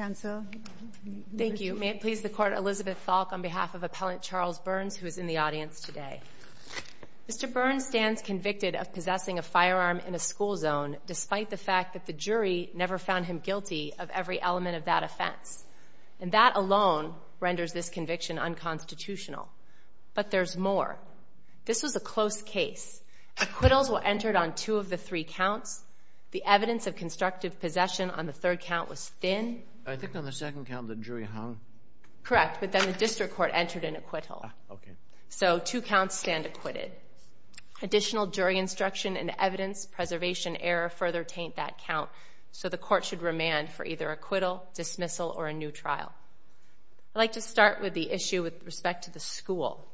Mr. Burns stands convicted of possessing a firearm in a school zone despite the fact that the jury never found him guilty of every element of that offense, and that alone renders this conviction unconstitutional. But there's more. This was a close case. Acquittals were entered on two of the three counts. The evidence of constructive possession on the third count was thin. So two counts stand acquitted. Additional jury instruction and evidence preservation error further taint that count, so the court should remand for either acquittal, dismissal, or a new trial. I'd like to start with the issue with respect to the school.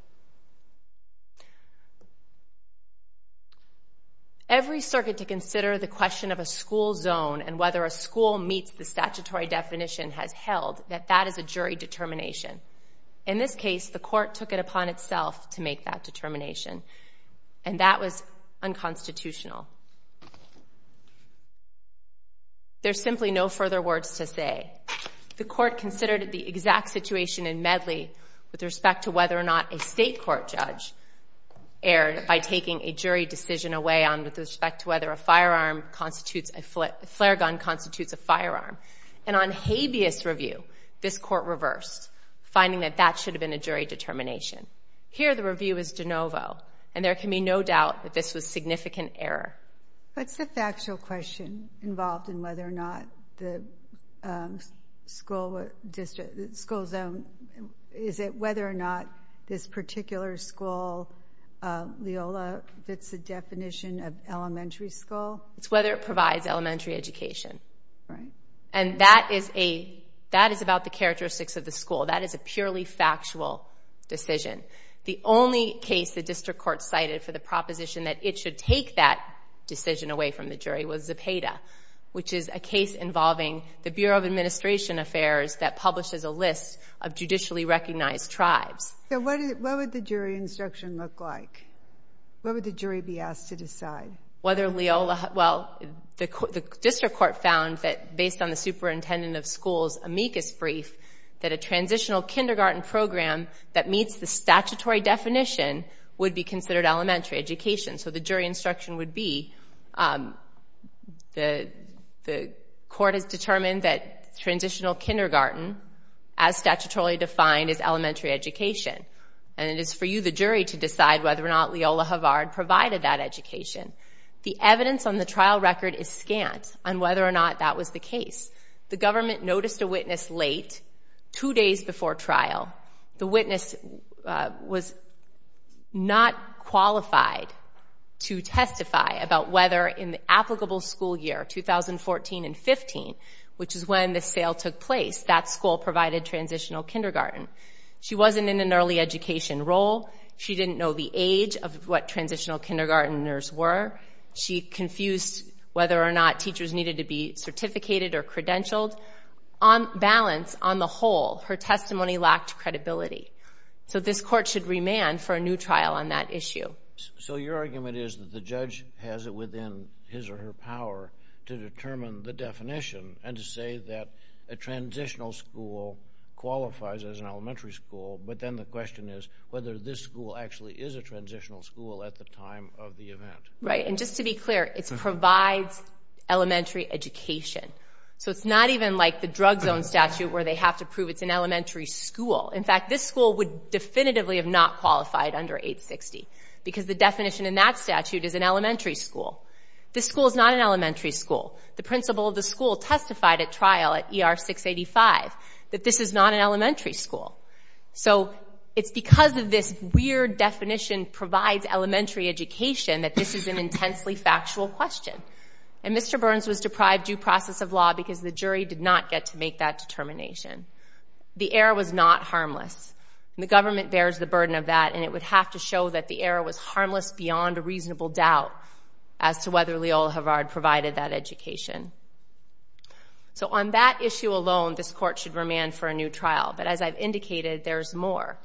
Every circuit to consider the question of a school zone and whether a school meets the statutory definition has held that that is a jury determination. In this case, the court took it upon itself to make that determination, and that was unconstitutional. There's simply no further words to say. The court considered the exact situation in Medley with respect to whether or not a state court judge erred by taking a jury decision away on with respect to whether a firearm constitutes a, a flare gun constitutes a firearm. And on habeas review, this court reversed, finding that that should have been a jury determination. Here, the review is de novo, and there can be no doubt that this was significant error. What's the factual question involved in whether or not the school district, school zone, is it whether or not this particular school, Leola, fits the definition of elementary school? It's whether it provides elementary education. And that is a, that is about the characteristics of the school. That is a purely factual decision. The only case the district court cited for the proposition that it should take that decision away from the jury was Zepeda, which is a case involving the Bureau of Administration Affairs that publishes a list of judicially recognized tribes. So what, what would the jury instruction look like? What would the jury be asked to decide? Whether Leola, well, the district court found that based on the superintendent of schools, amicus brief, that a transitional kindergarten program that meets the statutory definition would be considered elementary education. So the jury instruction would be, the, the court has determined that transitional kindergarten, as statutorily defined, is elementary education. And it is for you, the jury, to decide whether or not Leola Havard provided that education. The evidence on the trial record is scant on whether or not that was the case. The government noticed a witness late, two days before trial. The witness was not qualified to testify about whether in the applicable school year, 2014 and 15, which is when the sale took place, that school provided transitional kindergarten. She wasn't in an early education role. She didn't know the age of what transitional kindergartners were. She confused whether or not teachers needed to be certificated or credentialed. On balance, on the whole, her testimony lacked credibility. So this court should remand for a new trial on that issue. So your argument is that the judge has it within his or her power to determine the definition and to say that a transitional school qualifies as an elementary school, but then the question is whether this school actually is a transitional school at the time of the event. Right. And just to be clear, it provides elementary education. So it's not even like the drug zone statute where they have to prove it's an elementary school. In fact, this school would definitively have not qualified under 860 because the definition in that statute is an elementary school. This school is not an elementary school. The principal of the school testified at trial at ER 685 that this is not an elementary school. So it's because of this weird definition provides elementary education that this is an intensely factual question. And Mr. Burns was deprived due process of law because the jury did not get to make that determination. The error was not harmless. The government bears the burden of that and it would have to show that the error was harmless beyond a reasonable doubt as to whether Leola Havard provided that education. So on that issue alone, this court should remand for a new trial. But as I've indicated, there's more.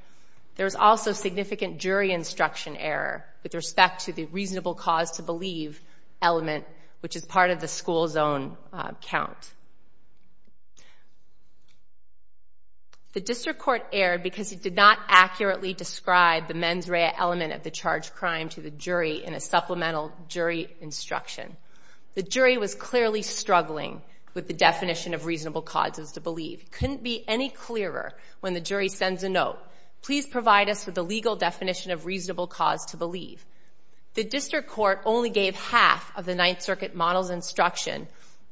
There's also significant jury instruction error with respect to the reasonable cause to believe element, which is part of the school zone count. The district court erred because it did not accurately describe the mens rea element of the charged crime to the jury in a supplemental jury instruction. The jury was clearly struggling with the definition of reasonable causes to believe. It couldn't be any clearer when the jury sends a note, please provide us with a legal definition of reasonable cause to believe. The district court only gave half of the Ninth Circuit model's instruction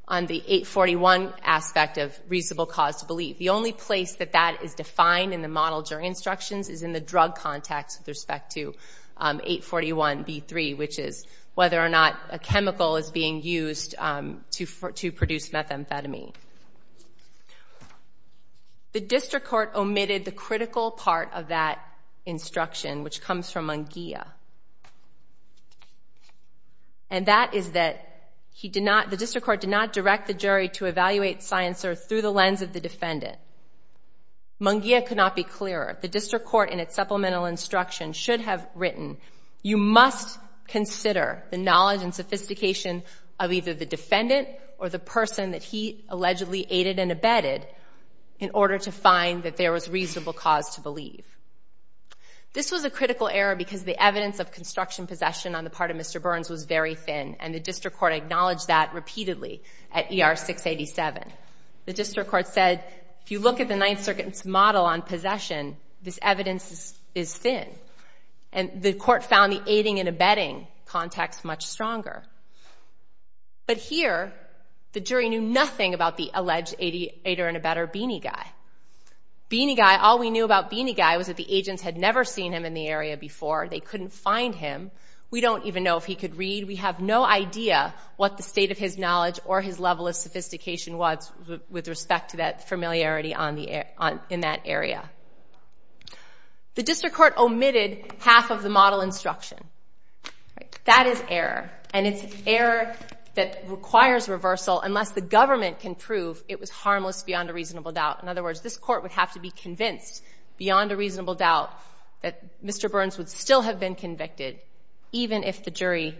on the 841 aspect of reasonable cause to believe. The only place that that is defined in the model jury instructions is in the drug context with respect to 841B3, which is whether or not a chemical is being used to produce methamphetamine. The district court omitted the critical part of that instruction, which comes from Munguia. And that is that he did not, the district court did not direct the jury to evaluate Sciencer through the lens of the defendant. Munguia could not be clearer. The district court in its supplemental instruction should have written, you must consider the knowledge and sophistication of either the defendant or the person that he allegedly aided and abetted in order to find that there was reasonable cause to believe. This was a critical error because the evidence of construction possession on the part of Mr. Burns was very thin, and the district court acknowledged that repeatedly at ER 687. The district court said, if you look at the Ninth Circuit's model on possession, this evidence is thin. And the court found the aiding and abetting context much stronger. But here, the jury knew nothing about the alleged aiding and abetting beanie guy. Beanie guy, all we knew about beanie guy was that the agents had never seen him in the area before. They couldn't find him. We don't even know if he could read. We have no idea what the state of his knowledge or his level of sophistication was with respect to that familiarity in that area. The district court omitted half of the model instruction. That is error. And it's error that requires reversal unless the government can prove it was harmless beyond a reasonable doubt. In other words, this court would have to be convinced beyond a reasonable doubt that Mr. Burns would still have been convicted even if the jury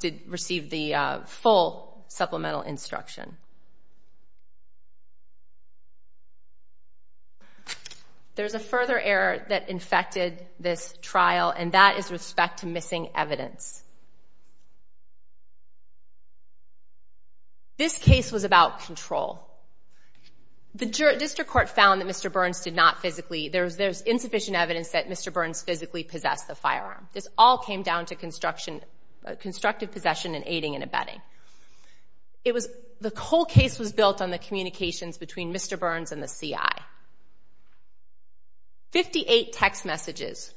did receive the full supplemental instruction. There's a further error that infected this trial, and that is respect to missing evidence. This case was about control. The district court found that Mr. Burns did not physically, there's insufficient evidence that Mr. Burns physically possessed the firearm. This all came down to construction, constructive possession and aiding and abetting. The whole case was built on the communications between Mr. Burns and the CI. Fifty-eight text messages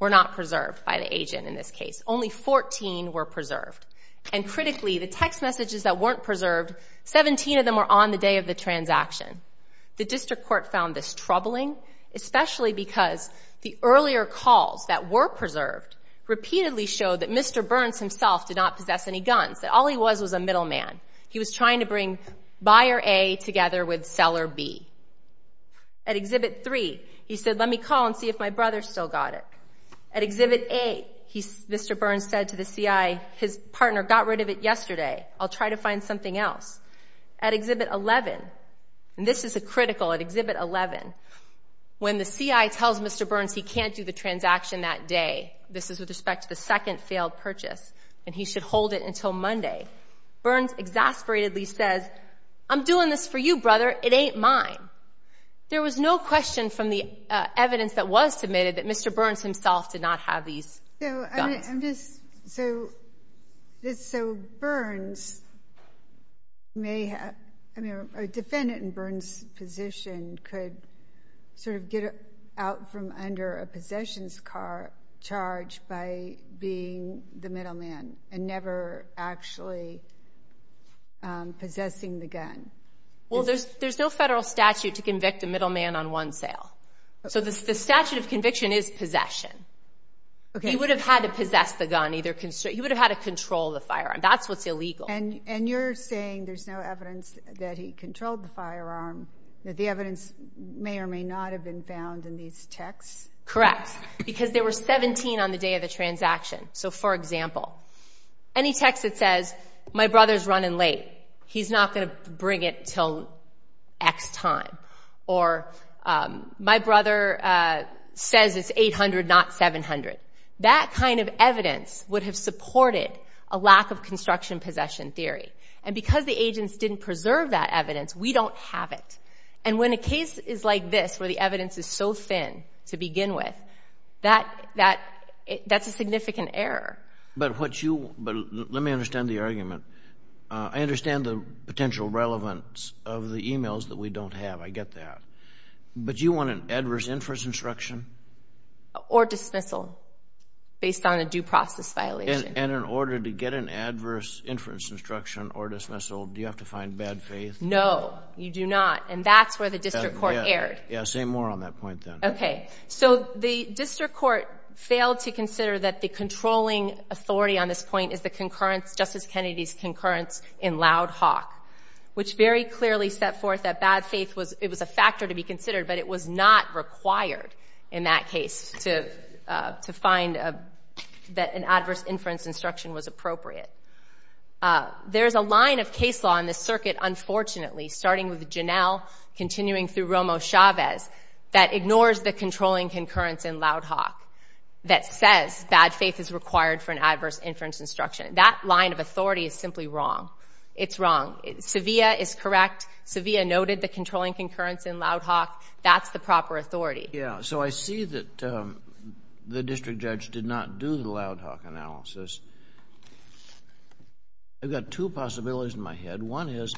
were not preserved by the agent in this case. Only 14 were preserved. And critically, the text messages that weren't preserved, 17 of them were on the day of the transaction. The district court found this troubling, especially because the earlier calls that were preserved repeatedly showed that Mr. Burns himself did not possess any guns, that all he was was a middleman. He was trying to bring Buyer A together with Seller B. At Exhibit 3, he said, let me call and see if my brother still got it. At Exhibit 8, Mr. Burns said to the CI, his partner got rid of it yesterday. I'll try to find something else. At Exhibit 11, and this is a critical, at Exhibit 11, when the CI tells Mr. Burns he can't do the transaction that day, this is with respect to the second failed purchase, and he should hold it until Monday, Burns exasperatedly says, I'm doing this for you, brother, it ain't mine. There was no question from the evidence that was submitted that Mr. Burns himself did not have these guns. So Burns may have, a defendant in Burns' position could sort of get out from under a possessions charge by being the middleman and never actually possessing the gun. Well, there's no federal statute to convict a middleman on one sale. So the statute of conviction is possession. He would have had to possess the gun. He would have had to control the firearm. That's what's illegal. And you're saying there's no evidence that he controlled the firearm, that the evidence may or may not have been found in these texts? Correct, because there were 17 on the day of the transaction. So, for example, any text that says, my brother's running late, he's not going to bring it until X time, or my brother says it's 800, not 700, that kind of evidence would have supported a lack of construction possession theory. And because the agents didn't preserve that evidence, we don't have it. And when a case is like this, where the evidence is so thin to begin with, that's a significant error. I understand the potential relevance of the e-mails that we don't have. I get that. But do you want an adverse inference instruction? Or dismissal based on a due process violation. And in order to get an adverse inference instruction or dismissal, do you have to find bad faith? No, you do not. And that's where the district court erred. Yeah, say more on that point then. Okay. So the district court failed to consider that the controlling authority on this point is Justice Kennedy's concurrence in Loud Hawk, which very clearly set forth that bad faith was a factor to be considered, but it was not required in that case to find that an adverse inference instruction was appropriate. There's a line of case law in this circuit, unfortunately, starting with Janel, continuing through Romo-Chavez, that ignores the controlling concurrence in Loud Hawk, that says bad faith is required for an adverse inference instruction. That line of authority is simply wrong. It's wrong. Sevilla is correct. Sevilla noted the controlling concurrence in Loud Hawk. That's the proper authority. Yeah. So I see that the district judge did not do the Loud Hawk analysis. I've got two possibilities in my head. One is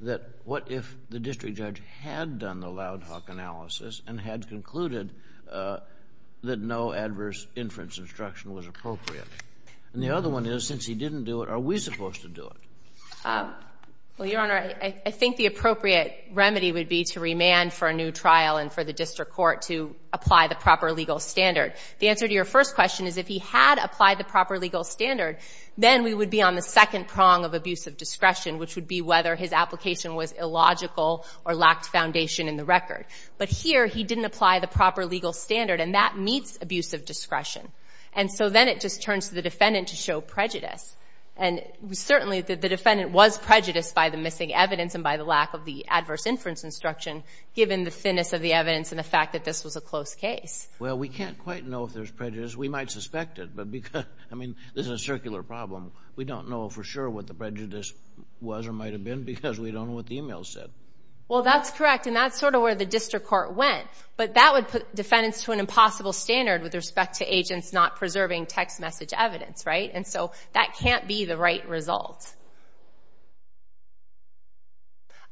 that what if the district judge had done the Loud Hawk analysis and had concluded that no adverse inference instruction was appropriate? And the other one is, since he didn't do it, are we supposed to do it? Well, Your Honor, I think the appropriate remedy would be to remand for a new trial and for the district court to apply the proper legal standard. The answer to your first question is if he had applied the proper legal standard, then we would be on the second prong of abusive discretion, which would be whether his application was illogical or lacked foundation in the record. But here he didn't apply the proper legal standard, and that meets abusive discretion. And so then it just turns to the defendant to show prejudice. And certainly the defendant was prejudiced by the missing evidence and by the lack of the adverse inference instruction, given the thinness of the evidence and the fact that this was a close case. Well, we can't quite know if there's prejudice. We might suspect it, but because, I mean, this is a circular problem. We don't know for sure what the prejudice was or might have been because we don't know what the email said. Well, that's correct, and that's sort of where the district court went. But that would put defendants to an impossible standard with respect to agents not preserving text message evidence, right? And so that can't be the right result.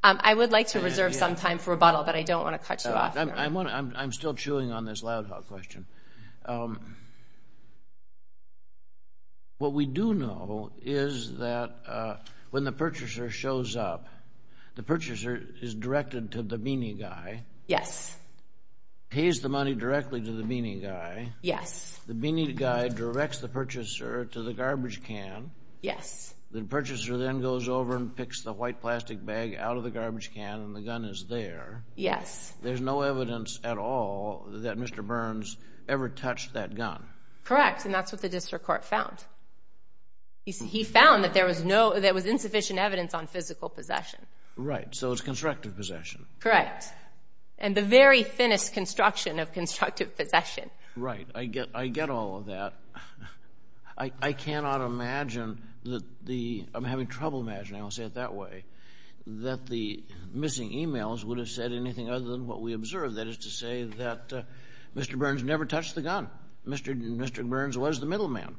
I would like to reserve some time for rebuttal, but I don't want to cut you off. I'm still chewing on this loud hog question. What we do know is that when the purchaser shows up, the purchaser is directed to the beanie guy. Yes. Pays the money directly to the beanie guy. Yes. The beanie guy directs the purchaser to the garbage can. Yes. The purchaser then goes over and picks the white plastic bag out of the garbage can, and the gun is there. Yes. There's no evidence at all that Mr. Burns ever touched that gun. Correct, and that's what the district court found. He found that there was insufficient evidence on physical possession. Right, so it's constructive possession. Correct, and the very thinnest construction of constructive possession. Right. I get all of that. I cannot imagine that the – I'm having trouble imagining, I'll say it that way, that the missing emails would have said anything other than what we observed. That is to say that Mr. Burns never touched the gun. That Mr. Burns was the middleman.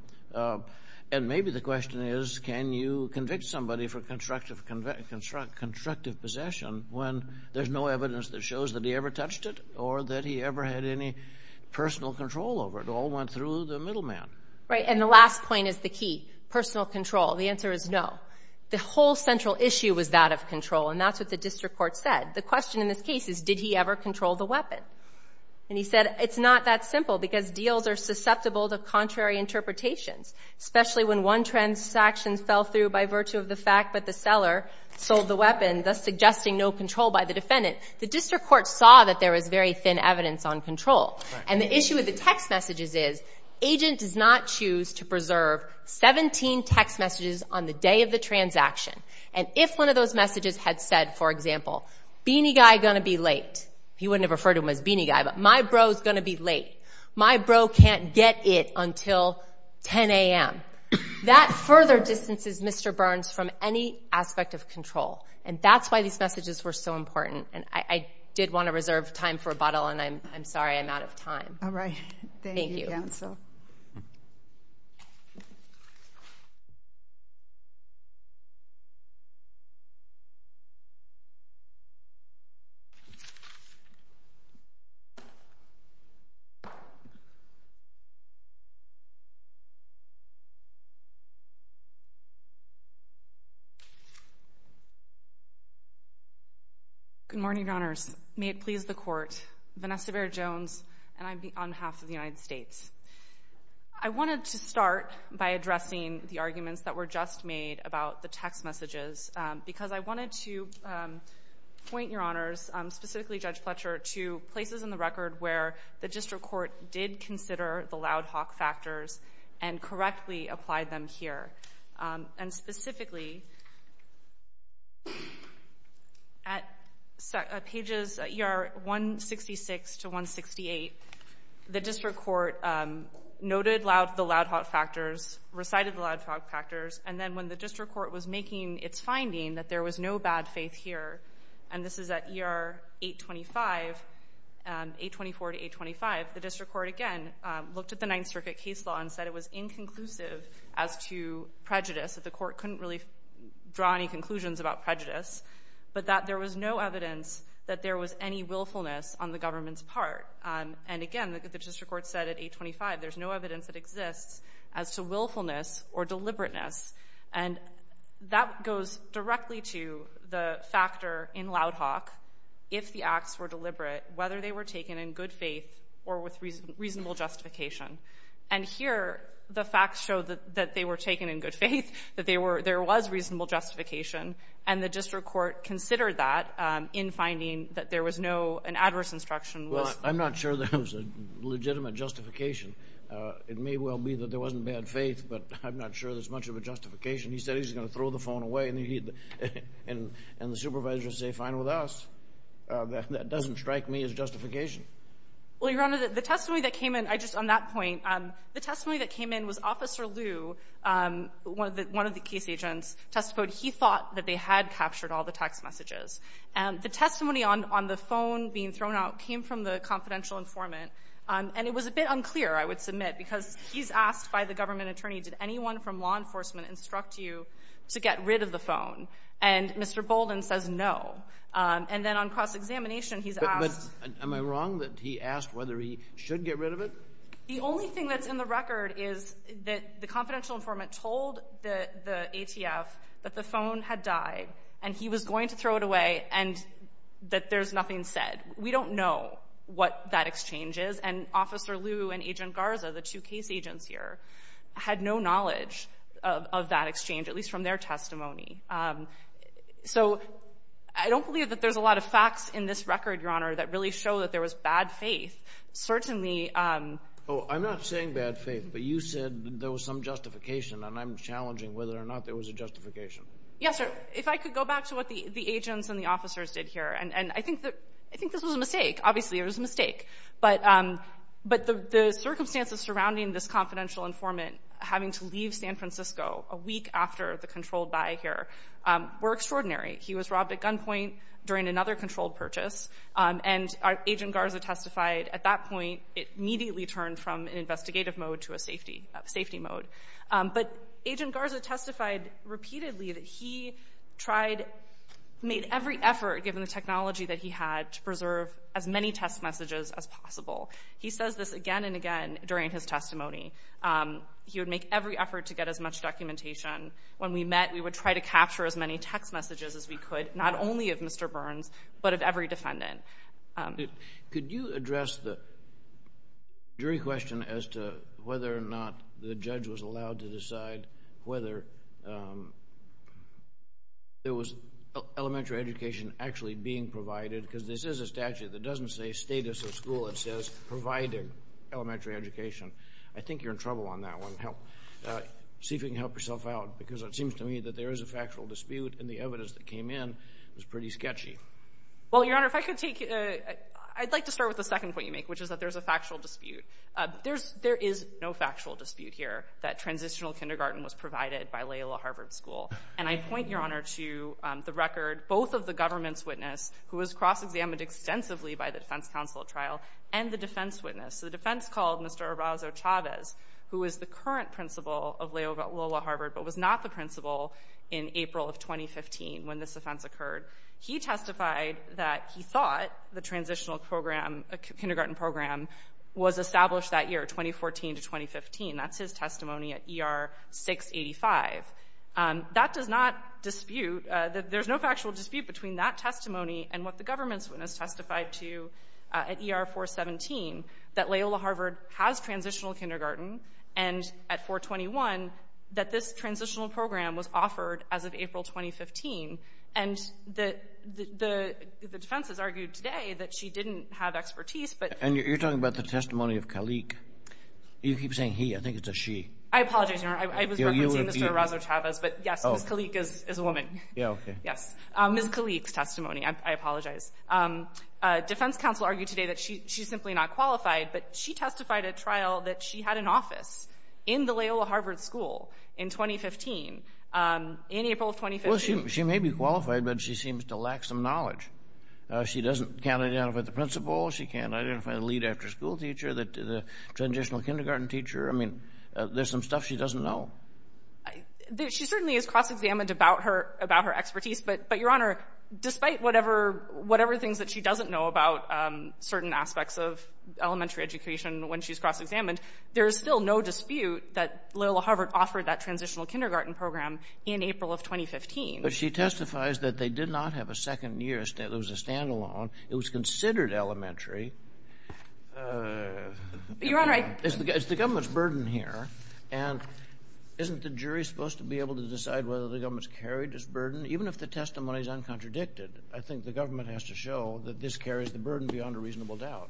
And maybe the question is, can you convict somebody for constructive possession when there's no evidence that shows that he ever touched it or that he ever had any personal control over it? It all went through the middleman. Right, and the last point is the key, personal control. The answer is no. The whole central issue was that of control, and that's what the district court said. The question in this case is, did he ever control the weapon? And he said it's not that simple because deals are susceptible to contrary interpretations, especially when one transaction fell through by virtue of the fact that the seller sold the weapon, thus suggesting no control by the defendant. The district court saw that there was very thin evidence on control. And the issue with the text messages is agent does not choose to preserve 17 text messages on the day of the transaction. And if one of those messages had said, for example, Beanie Guy going to be late. He wouldn't have referred to him as Beanie Guy, but my bro's going to be late. My bro can't get it until 10 a.m. That further distances Mr. Burns from any aspect of control. And that's why these messages were so important. And I did want to reserve time for rebuttal, and I'm sorry I'm out of time. All right. Thank you, counsel. Thank you. Good morning, Your Honors. May it please the Court. Vanessa Bair-Jones, and I'm on behalf of the United States. I wanted to start by addressing the arguments that were just made about the text messages, because I wanted to point, Your Honors, specifically Judge Fletcher, to places in the record where the district court did consider the loud hawk factors and correctly applied them here. And specifically, at pages 166 to 168, the district court noted the loud hawk factors, recited the loud hawk factors, and then when the district court was making its finding that there was no bad faith here, and this is at ER 825, 824 to 825, the district court again looked at the Ninth Circuit case law and said it was inconclusive as to prejudice, that the court couldn't really draw any conclusions about prejudice, but that there was no evidence that there was any willfulness on the government's part. And again, the district court said at 825, there's no evidence that exists as to willfulness or deliberateness, and that goes directly to the factor in loud hawk, if the acts were deliberate, whether they were taken in good faith or with reasonable justification. And here, the facts show that they were taken in good faith, that there was reasonable justification, and the district court considered that in finding that there was no adverse instruction. Well, I'm not sure there was a legitimate justification. It may well be that there wasn't bad faith, but I'm not sure there's much of a justification. He said he was going to throw the phone away, and the supervisors say, fine with us. That doesn't strike me as justification. Well, Your Honor, the testimony that came in, I just, on that point, the testimony that came in was Officer Liu, one of the case agents, testified he thought that they had captured all the text messages. The testimony on the phone being thrown out came from the confidential informant, and it was a bit unclear, I would submit, because he's asked by the government attorney, did anyone from law enforcement instruct you to get rid of the phone? And Mr. Bolden says no. And then on cross-examination, he's asked. But am I wrong that he asked whether he should get rid of it? The only thing that's in the record is that the confidential informant told the ATF that the phone had died and he was going to throw it away and that there's nothing said. We don't know what that exchange is, and Officer Liu and Agent Garza, the two case agents here, had no knowledge of that exchange, at least from their testimony. So I don't believe that there's a lot of facts in this record, Your Honor, that really show that there was bad faith. Certainly— Oh, I'm not saying bad faith, but you said there was some justification, and I'm challenging whether or not there was a justification. Yes, sir. If I could go back to what the agents and the officers did here, and I think this was a mistake. Obviously, it was a mistake. But the circumstances surrounding this confidential informant having to leave San Francisco a week after the controlled buy here were extraordinary. He was robbed at gunpoint during another controlled purchase, and Agent Garza testified at that point. It immediately turned from an investigative mode to a safety mode. But Agent Garza testified repeatedly that he tried—made every effort, given the technology that he had, to preserve as many text messages as possible. He says this again and again during his testimony. He would make every effort to get as much documentation. When we met, we would try to capture as many text messages as we could, not only of Mr. Burns, but of every defendant. Could you address the jury question as to whether or not the judge was allowed to decide whether there was elementary education actually being provided, because this is a statute that doesn't say status of school. It says providing elementary education. I think you're in trouble on that one. See if you can help yourself out, because it seems to me that there is a factual dispute, and the evidence that came in was pretty sketchy. Well, Your Honor, if I could take—I'd like to start with the second point you make, which is that there's a factual dispute. There is no factual dispute here that transitional kindergarten was provided by Loyola Harvard School. And I point, Your Honor, to the record, both of the government's witness, who was cross-examined extensively by the defense counsel at trial, and the defense witness. The defense called Mr. Arauzo-Chavez, who is the current principal of Loyola Harvard but was not the principal in April of 2015 when this offense occurred. He testified that he thought the transitional kindergarten program was established that year, 2014 to 2015. That's his testimony at ER 685. That does not dispute—there's no factual dispute between that testimony and what the government's witness testified to at ER 417, that Loyola Harvard has transitional kindergarten, and at 421, that this transitional program was offered as of April 2015. And the defense has argued today that she didn't have expertise, but— And you're talking about the testimony of Kalik. You keep saying he. I think it's a she. I apologize, Your Honor. I was referencing Mr. Arauzo-Chavez, but yes, Ms. Kalik is a woman. Yeah, okay. Yes. Ms. Kalik's testimony. I apologize. Defense counsel argued today that she's simply not qualified, but she testified at trial that she had an office in the Loyola Harvard School in 2015, in April of 2015. Well, she may be qualified, but she seems to lack some knowledge. She can't identify the principal. She can't identify the lead after-school teacher, the transitional kindergarten teacher. I mean, there's some stuff she doesn't know. She certainly is cross-examined about her expertise, but, Your Honor, despite whatever things that she doesn't know about certain aspects of elementary education when she's cross-examined, there is still no dispute that Loyola Harvard offered that transitional kindergarten program in April of 2015. But she testifies that they did not have a second year. It was a standalone. It was considered elementary. Your Honor, I — It's the government's burden here, and isn't the jury supposed to be able to decide whether the government's carried this burden? Even if the testimony is uncontradicted, I think the government has to show that this carries the burden beyond a reasonable doubt.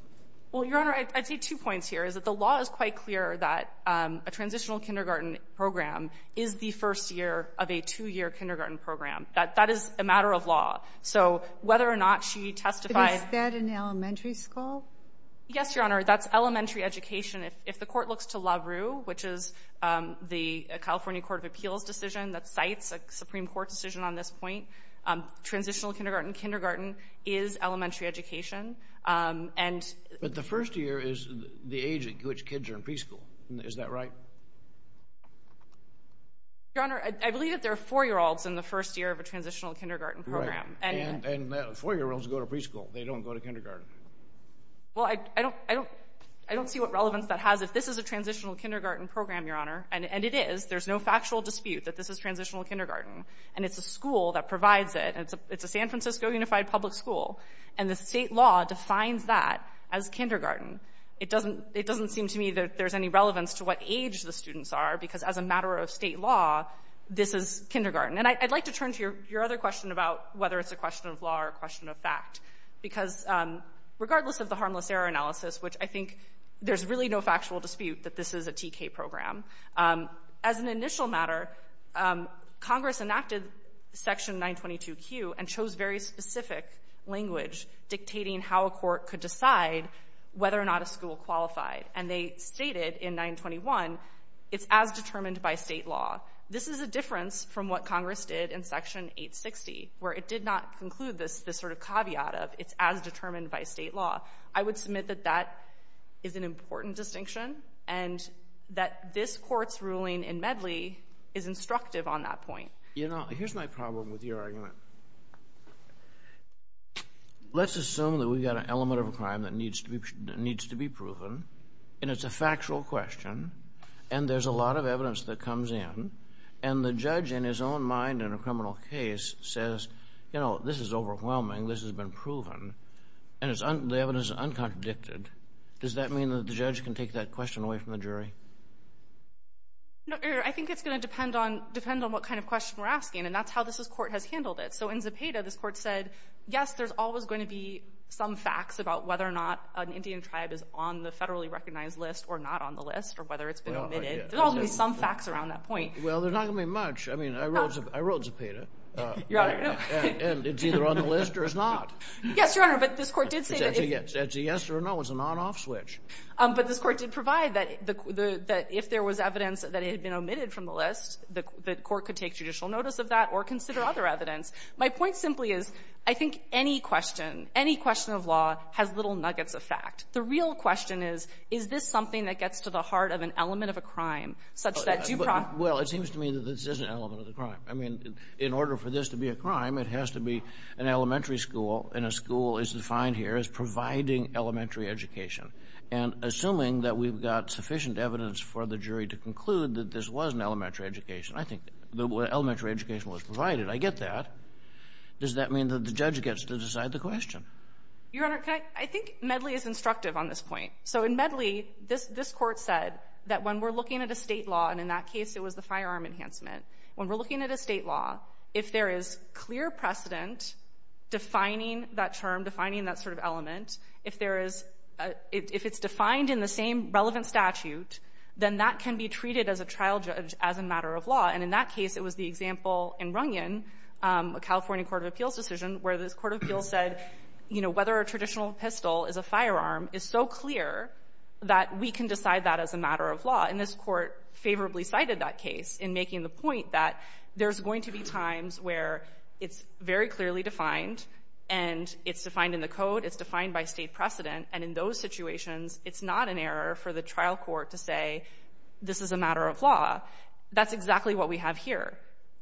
Well, Your Honor, I'd say two points here, is that the law is quite clear that a transitional kindergarten program is the first year of a two-year kindergarten program. That is a matter of law. So whether or not she testified — But is that in elementary school? Yes, Your Honor. That's elementary education. If the court looks to LaRue, which is the California Court of Appeals decision that cites a Supreme Court decision on this point, transitional kindergarten, kindergarten is elementary education. But the first year is the age at which kids are in preschool. Is that right? Your Honor, I believe that there are four-year-olds in the first year of a transitional kindergarten program. Right. And four-year-olds go to preschool. They don't go to kindergarten. Well, I don't see what relevance that has. If this is a transitional kindergarten program, Your Honor, and it is, there's no factual dispute that this is transitional kindergarten, and it's a school that provides it, and it's a San Francisco Unified Public School, and the state law defines that as kindergarten, it doesn't seem to me that there's any relevance to what age the students are, because as a matter of state law, this is kindergarten. And I'd like to turn to your other question about whether it's a question of law or a question of fact, because regardless of the harmless error analysis, which I think there's really no factual dispute that this is a TK program, as an initial matter, Congress enacted Section 922Q and chose very specific language dictating how a court could decide whether or not a school qualified. And they stated in 921, it's as determined by state law. This is a difference from what Congress did in Section 860, where it did not conclude this sort of caveat of it's as determined by state law. I would submit that that is an important distinction and that this Court's ruling in Medley is instructive on that point. You know, here's my problem with your argument. Let's assume that we've got an element of a crime that needs to be proven, and it's a factual question, and there's a lot of evidence that comes in, and the judge in his own mind in a criminal case says, you know, this is overwhelming, this has been proven, and the evidence is uncontradicted. Does that mean that the judge can take that question away from the jury? No, I think it's going to depend on what kind of question we're asking, and that's how this Court has handled it. So in Zepeda, this Court said, yes, there's always going to be some facts about whether or not an Indian tribe is on the federally recognized list or not on the list or whether it's been admitted. There's always going to be some facts around that point. Well, there's not going to be much. I mean, I wrote Zepeda, and it's either on the list or it's not. Yes, Your Honor, but this Court did say that it's a yes or no. It's a on-off switch. But this Court did provide that if there was evidence that it had been omitted from the list, the Court could take judicial notice of that or consider other evidence. My point simply is, I think any question, any question of law, has little nuggets of fact. The real question is, is this something that gets to the heart of an element of a crime such that due process? Well, it seems to me that this is an element of a crime. I mean, in order for this to be a crime, it has to be an elementary school, and a school is defined here as providing elementary education. And assuming that we've got sufficient evidence for the jury to conclude that this was an elementary education, I think the elementary education was provided. I get that. Does that mean that the judge gets to decide the question? Your Honor, I think Medley is instructive on this point. So in Medley, this Court said that when we're looking at a state law, and in that case it was the firearm enhancement, when we're looking at a state law, if there is clear precedent defining that term, defining that sort of element, if it's defined in the same relevant statute, then that can be treated as a trial judge as a matter of law. And in that case, it was the example in Runyon, a California Court of Appeals decision, where this Court of Appeals said, you know, whether a traditional pistol is a firearm is so clear that we can decide that as a matter of law. And this Court favorably cited that case in making the point that there's going to be times where it's very clearly defined, and it's defined in the code, it's defined by state precedent, and in those situations, it's not an error for the trial court to say, this is a matter of law. That's exactly what we have here.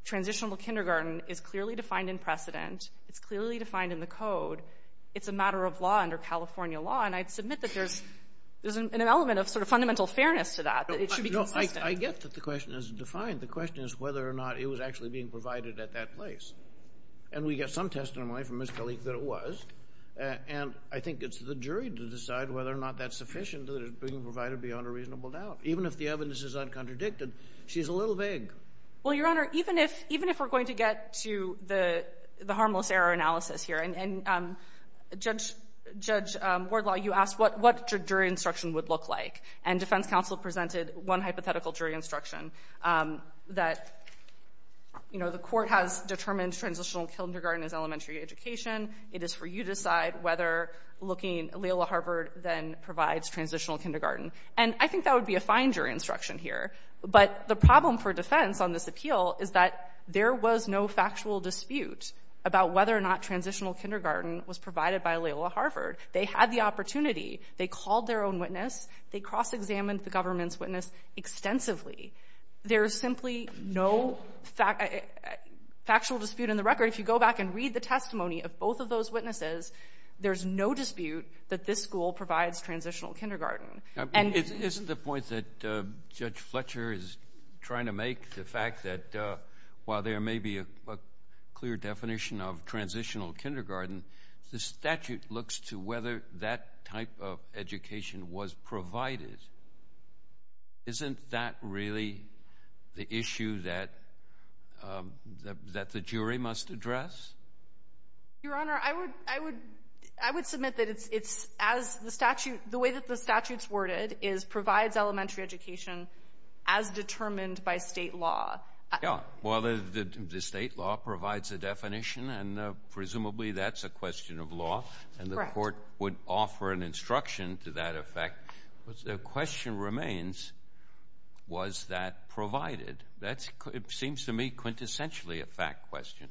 Transitionable kindergarten is clearly defined in precedent, it's clearly defined in the code, it's a matter of law under California law, and I'd submit that there's an element of sort of fundamental fairness to that, that it should be consistent. No, I get that the question isn't defined. The question is whether or not it was actually being provided at that place. And we get some testimony from Ms. Kalik that it was, and I think it's the jury to decide whether or not that's sufficient that it's being provided beyond a reasonable doubt. Even if the evidence is uncontradicted, she's a little vague. Well, Your Honor, even if we're going to get to the harmless error analysis here, and Judge Wardlaw, you asked what jury instruction would look like, and defense counsel presented one hypothetical jury instruction, that, you know, the court has determined transitional kindergarten as elementary education, it is for you to decide whether looking, Loyola Harvard then provides transitional kindergarten. And I think that would be a fine jury instruction here. But the problem for defense on this appeal is that there was no factual dispute about whether or not transitional kindergarten was provided by Loyola Harvard. They had the opportunity. They called their own witness. They cross-examined the government's witness extensively. There is simply no factual dispute in the record. If you go back and read the testimony of both of those witnesses, there's no dispute that this school provides transitional kindergarten. Isn't the point that Judge Fletcher is trying to make the fact that while there may be a clear definition of transitional kindergarten, the statute looks to whether that type of education was provided. Isn't that really the issue that the jury must address? Your Honor, I would submit that it's as the statute, the way that the statute's worded is provides elementary education as determined by state law. Yeah. Well, the state law provides a definition, and presumably that's a question of law. Correct. And the court would offer an instruction to that effect. The question remains, was that provided? That seems to me quintessentially a fact question.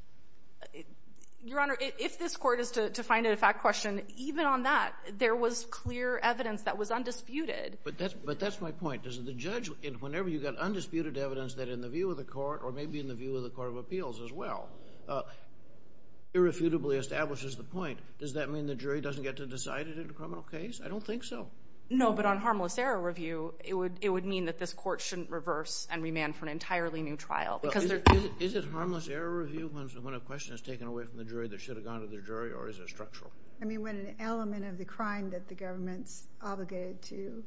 Your Honor, if this court is to find it a fact question, even on that there was clear evidence that was undisputed. But that's my point. The judge, whenever you've got undisputed evidence that in the view of the court or maybe in the view of the Court of Appeals as well, irrefutably establishes the point. Does that mean the jury doesn't get to decide it in a criminal case? I don't think so. No, but on harmless error review, it would mean that this court shouldn't reverse and remand for an entirely new trial. Is it harmless error review when a question is taken away from the jury that should have gone to the jury, or is it structural? I mean, when an element of the crime that the government's obligated to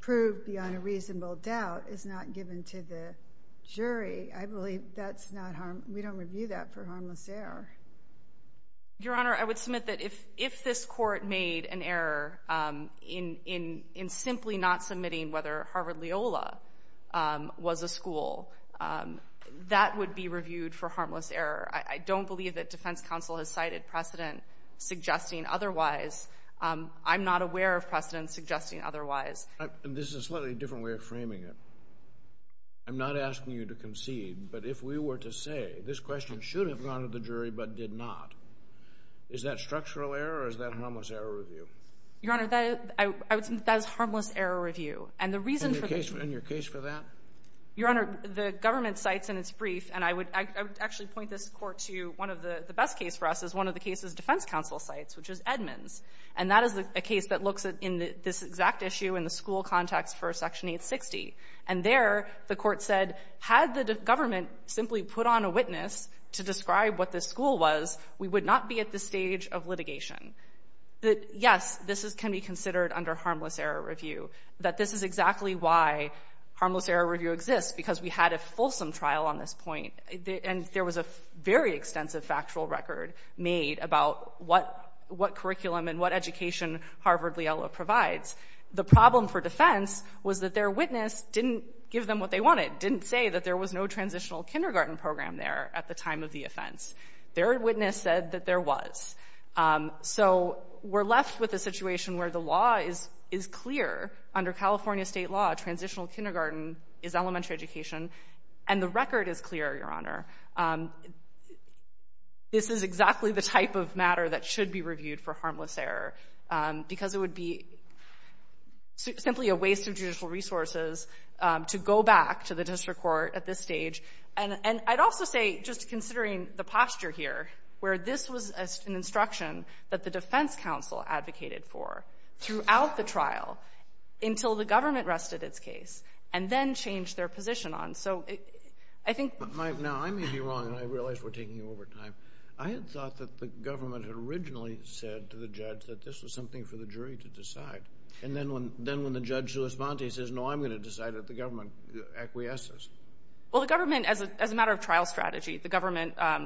prove beyond a reasonable doubt is not given to the jury, I believe that's not harmless. We don't review that for harmless error. Your Honor, I would submit that if this court made an error in simply not submitting whether Harvard Leola was a school, that would be reviewed for harmless error. I don't believe that defense counsel has cited precedent suggesting otherwise. I'm not aware of precedent suggesting otherwise. This is a slightly different way of framing it. I'm not asking you to concede, but if we were to say, this question should have gone to the jury but did not, is that structural error or is that harmless error review? Your Honor, that is harmless error review. And the reason for that... And your case for that? Your Honor, the government cites in its brief, and I would actually point this court to one of the best cases for us, is one of the cases defense counsel cites, which is Edmonds. And that is a case that looks at this exact issue in the school context for Section 860. And there, the court said, had the government simply put on a witness to describe what this school was, we would not be at this stage of litigation. Yes, this can be considered under harmless error review, that this is exactly why harmless error review exists, because we had a fulsome trial on this point. And there was a very extensive factual record made about what curriculum and what education Harvard-Liela provides. The problem for defense was that their witness didn't give them what they wanted, didn't say that there was no transitional kindergarten program there at the time of the offense. Their witness said that there was. So we're left with a situation where the law is clear. Under California state law, transitional kindergarten is elementary education. And the record is clear, Your Honor. This is exactly the type of matter that should be reviewed for harmless error, because it would be simply a waste of judicial resources to go back to the district court at this stage. And I'd also say, just considering the posture here, where this was an instruction that the defense counsel advocated for throughout the trial, until the government rested its case, and then changed their position on it. Now, I may be wrong, and I realize we're taking over time. I had thought that the government had originally said to the judge that this was something for the jury to decide. And then when the judge's response, he says, no, I'm going to decide that the government acquiesces. Well, the government, as a matter of trial strategy, the government, out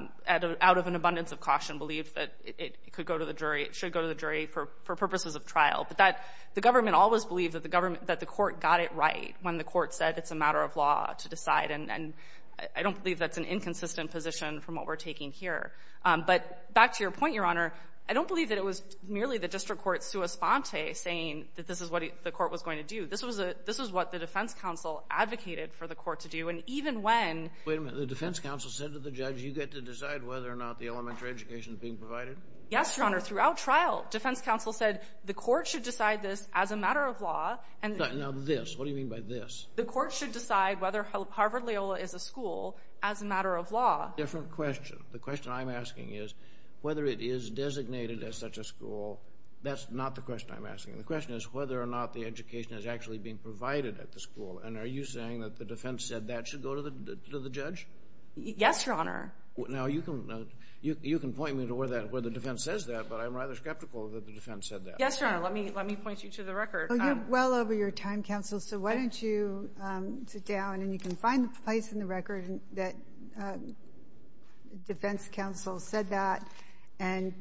of an abundance of caution, believed that it could go to the jury. It should go to the jury for purposes of trial. But the government always believed that the court got it right when the court said it's a matter of law to decide. And I don't believe that's an inconsistent position from what we're taking here. But back to your point, Your Honor, I don't believe that it was merely the district court sua sponte saying that this is what the court was going to do. This was what the defense counsel advocated for the court to do. And even when— Wait a minute. The defense counsel said to the judge, you get to decide whether or not the elementary education is being provided? Yes, Your Honor, throughout trial. Defense counsel said the court should decide this as a matter of law. Now, this. What do you mean by this? The court should decide whether Harvard Loyola is a school as a matter of law. Different question. The question I'm asking is whether it is designated as such a school. That's not the question I'm asking. The question is whether or not the education is actually being provided at the school. And are you saying that the defense said that should go to the judge? Yes, Your Honor. Now, you can point me to where the defense says that, but I'm rather skeptical that the defense said that. Yes, Your Honor. Let me point you to the record. Well, you're well over your time, counsel, so why don't you sit down and you can find the place in the record that defense counsel said that and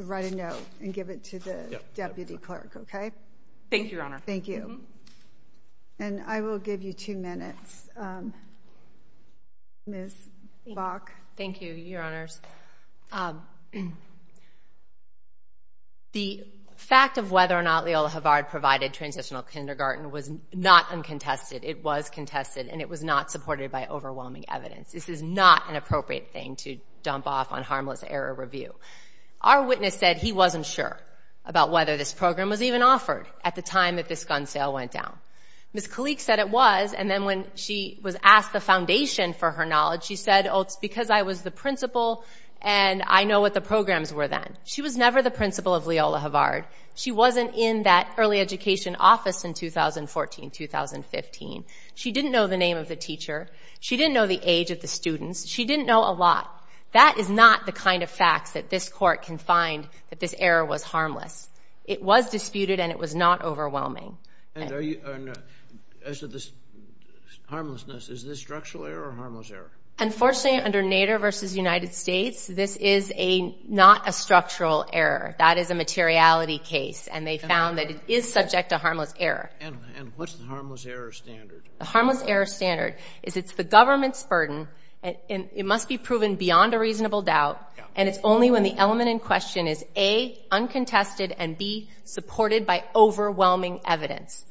write a note and give it to the deputy clerk. Okay? Thank you, Your Honor. Thank you. And I will give you two minutes. Ms. Bach. Thank you, Your Honors. The fact of whether or not Loyola Harvard provided transitional kindergarten was not uncontested. It was contested, and it was not supported by overwhelming evidence. This is not an appropriate thing to dump off on harmless error review. Our witness said he wasn't sure about whether this program was even offered at the time that this gun sale went down. Ms. Kalik said it was, and then when she was asked the foundation for her knowledge, she said, oh, it's because I was the principal and I know what the programs were then. She was never the principal of Loyola Harvard. She wasn't in that early education office in 2014, 2015. She didn't know the name of the teacher. She didn't know the age of the students. She didn't know a lot. That is not the kind of facts that this court can find that this error was harmless. It was disputed, and it was not overwhelming. And as to this harmlessness, is this structural error or harmless error? Unfortunately, under Nader v. United States, this is not a structural error. That is a materiality case, and they found that it is subject to harmless error. And what's the harmless error standard? The harmless error standard is it's the government's burden, and it must be proven beyond a reasonable doubt, and it's only when the element in question is, A, uncontested, and, B, supported by overwhelming evidence.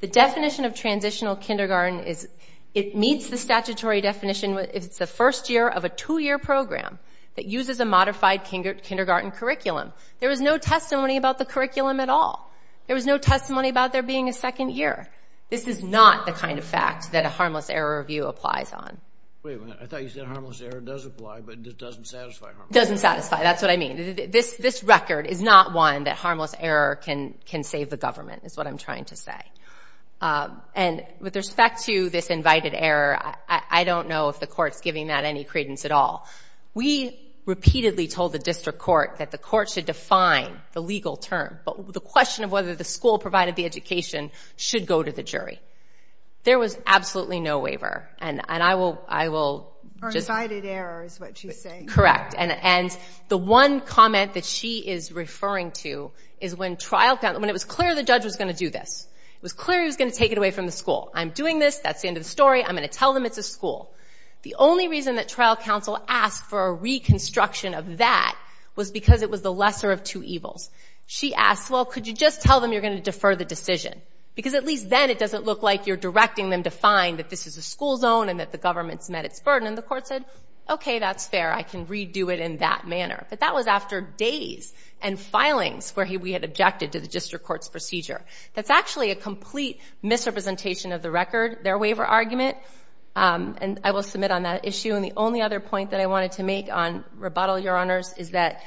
The definition of transitional kindergarten is it meets the statutory definition if it's the first year of a two-year program that uses a modified kindergarten curriculum. There was no testimony about the curriculum at all. There was no testimony about there being a second year. This is not the kind of fact that a harmless error review applies on. Wait a minute, I thought you said harmless error does apply, but it doesn't satisfy harmless error. It doesn't satisfy, that's what I mean. This record is not one that harmless error can save the government, is what I'm trying to say. And with respect to this invited error, I don't know if the court's giving that any credence at all. We repeatedly told the district court that the court should define the legal term, but the question of whether the school provided the education should go to the jury. There was absolutely no waiver. Or invited error is what she's saying. Correct. And the one comment that she is referring to is when it was clear the judge was going to do this, it was clear he was going to take it away from the school, I'm doing this, that's the end of the story, I'm going to tell them it's a school. The only reason that trial counsel asked for a reconstruction of that was because it was the lesser of two evils. She asked, well, could you just tell them you're going to defer the decision? Because at least then it doesn't look like you're directing them to find that this is a school zone and that the government's met its burden. And the court said, okay, that's fair, I can redo it in that manner. But that was after days and filings where we had objected to the district court's procedure. That's actually a complete misrepresentation of the record, their waiver argument. And I will submit on that issue. And the only other point that I wanted to make on rebuttal, Your Honors, is that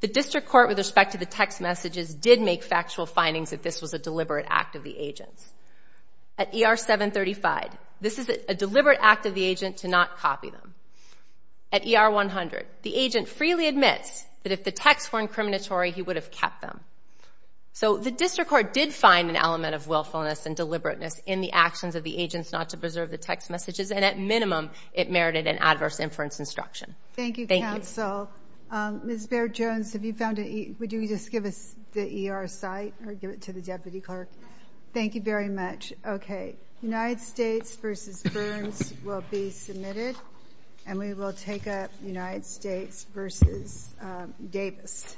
the district court with respect to the text messages did make factual findings that this was a deliberate act of the agents. At ER 735, this is a deliberate act of the agent to not copy them. At ER 100, the agent freely admits that if the texts were incriminatory, he would have kept them. So the district court did find an element of willfulness and deliberateness in the actions of the agents not to preserve the text messages, and at minimum it merited an adverse inference instruction. Thank you, counsel. Ms. Baird-Jones, have you found a ER? Would you just give us the ER site or give it to the deputy clerk? Thank you very much. Okay. United States v. Burns will be submitted, and we will take up United States v. Davis.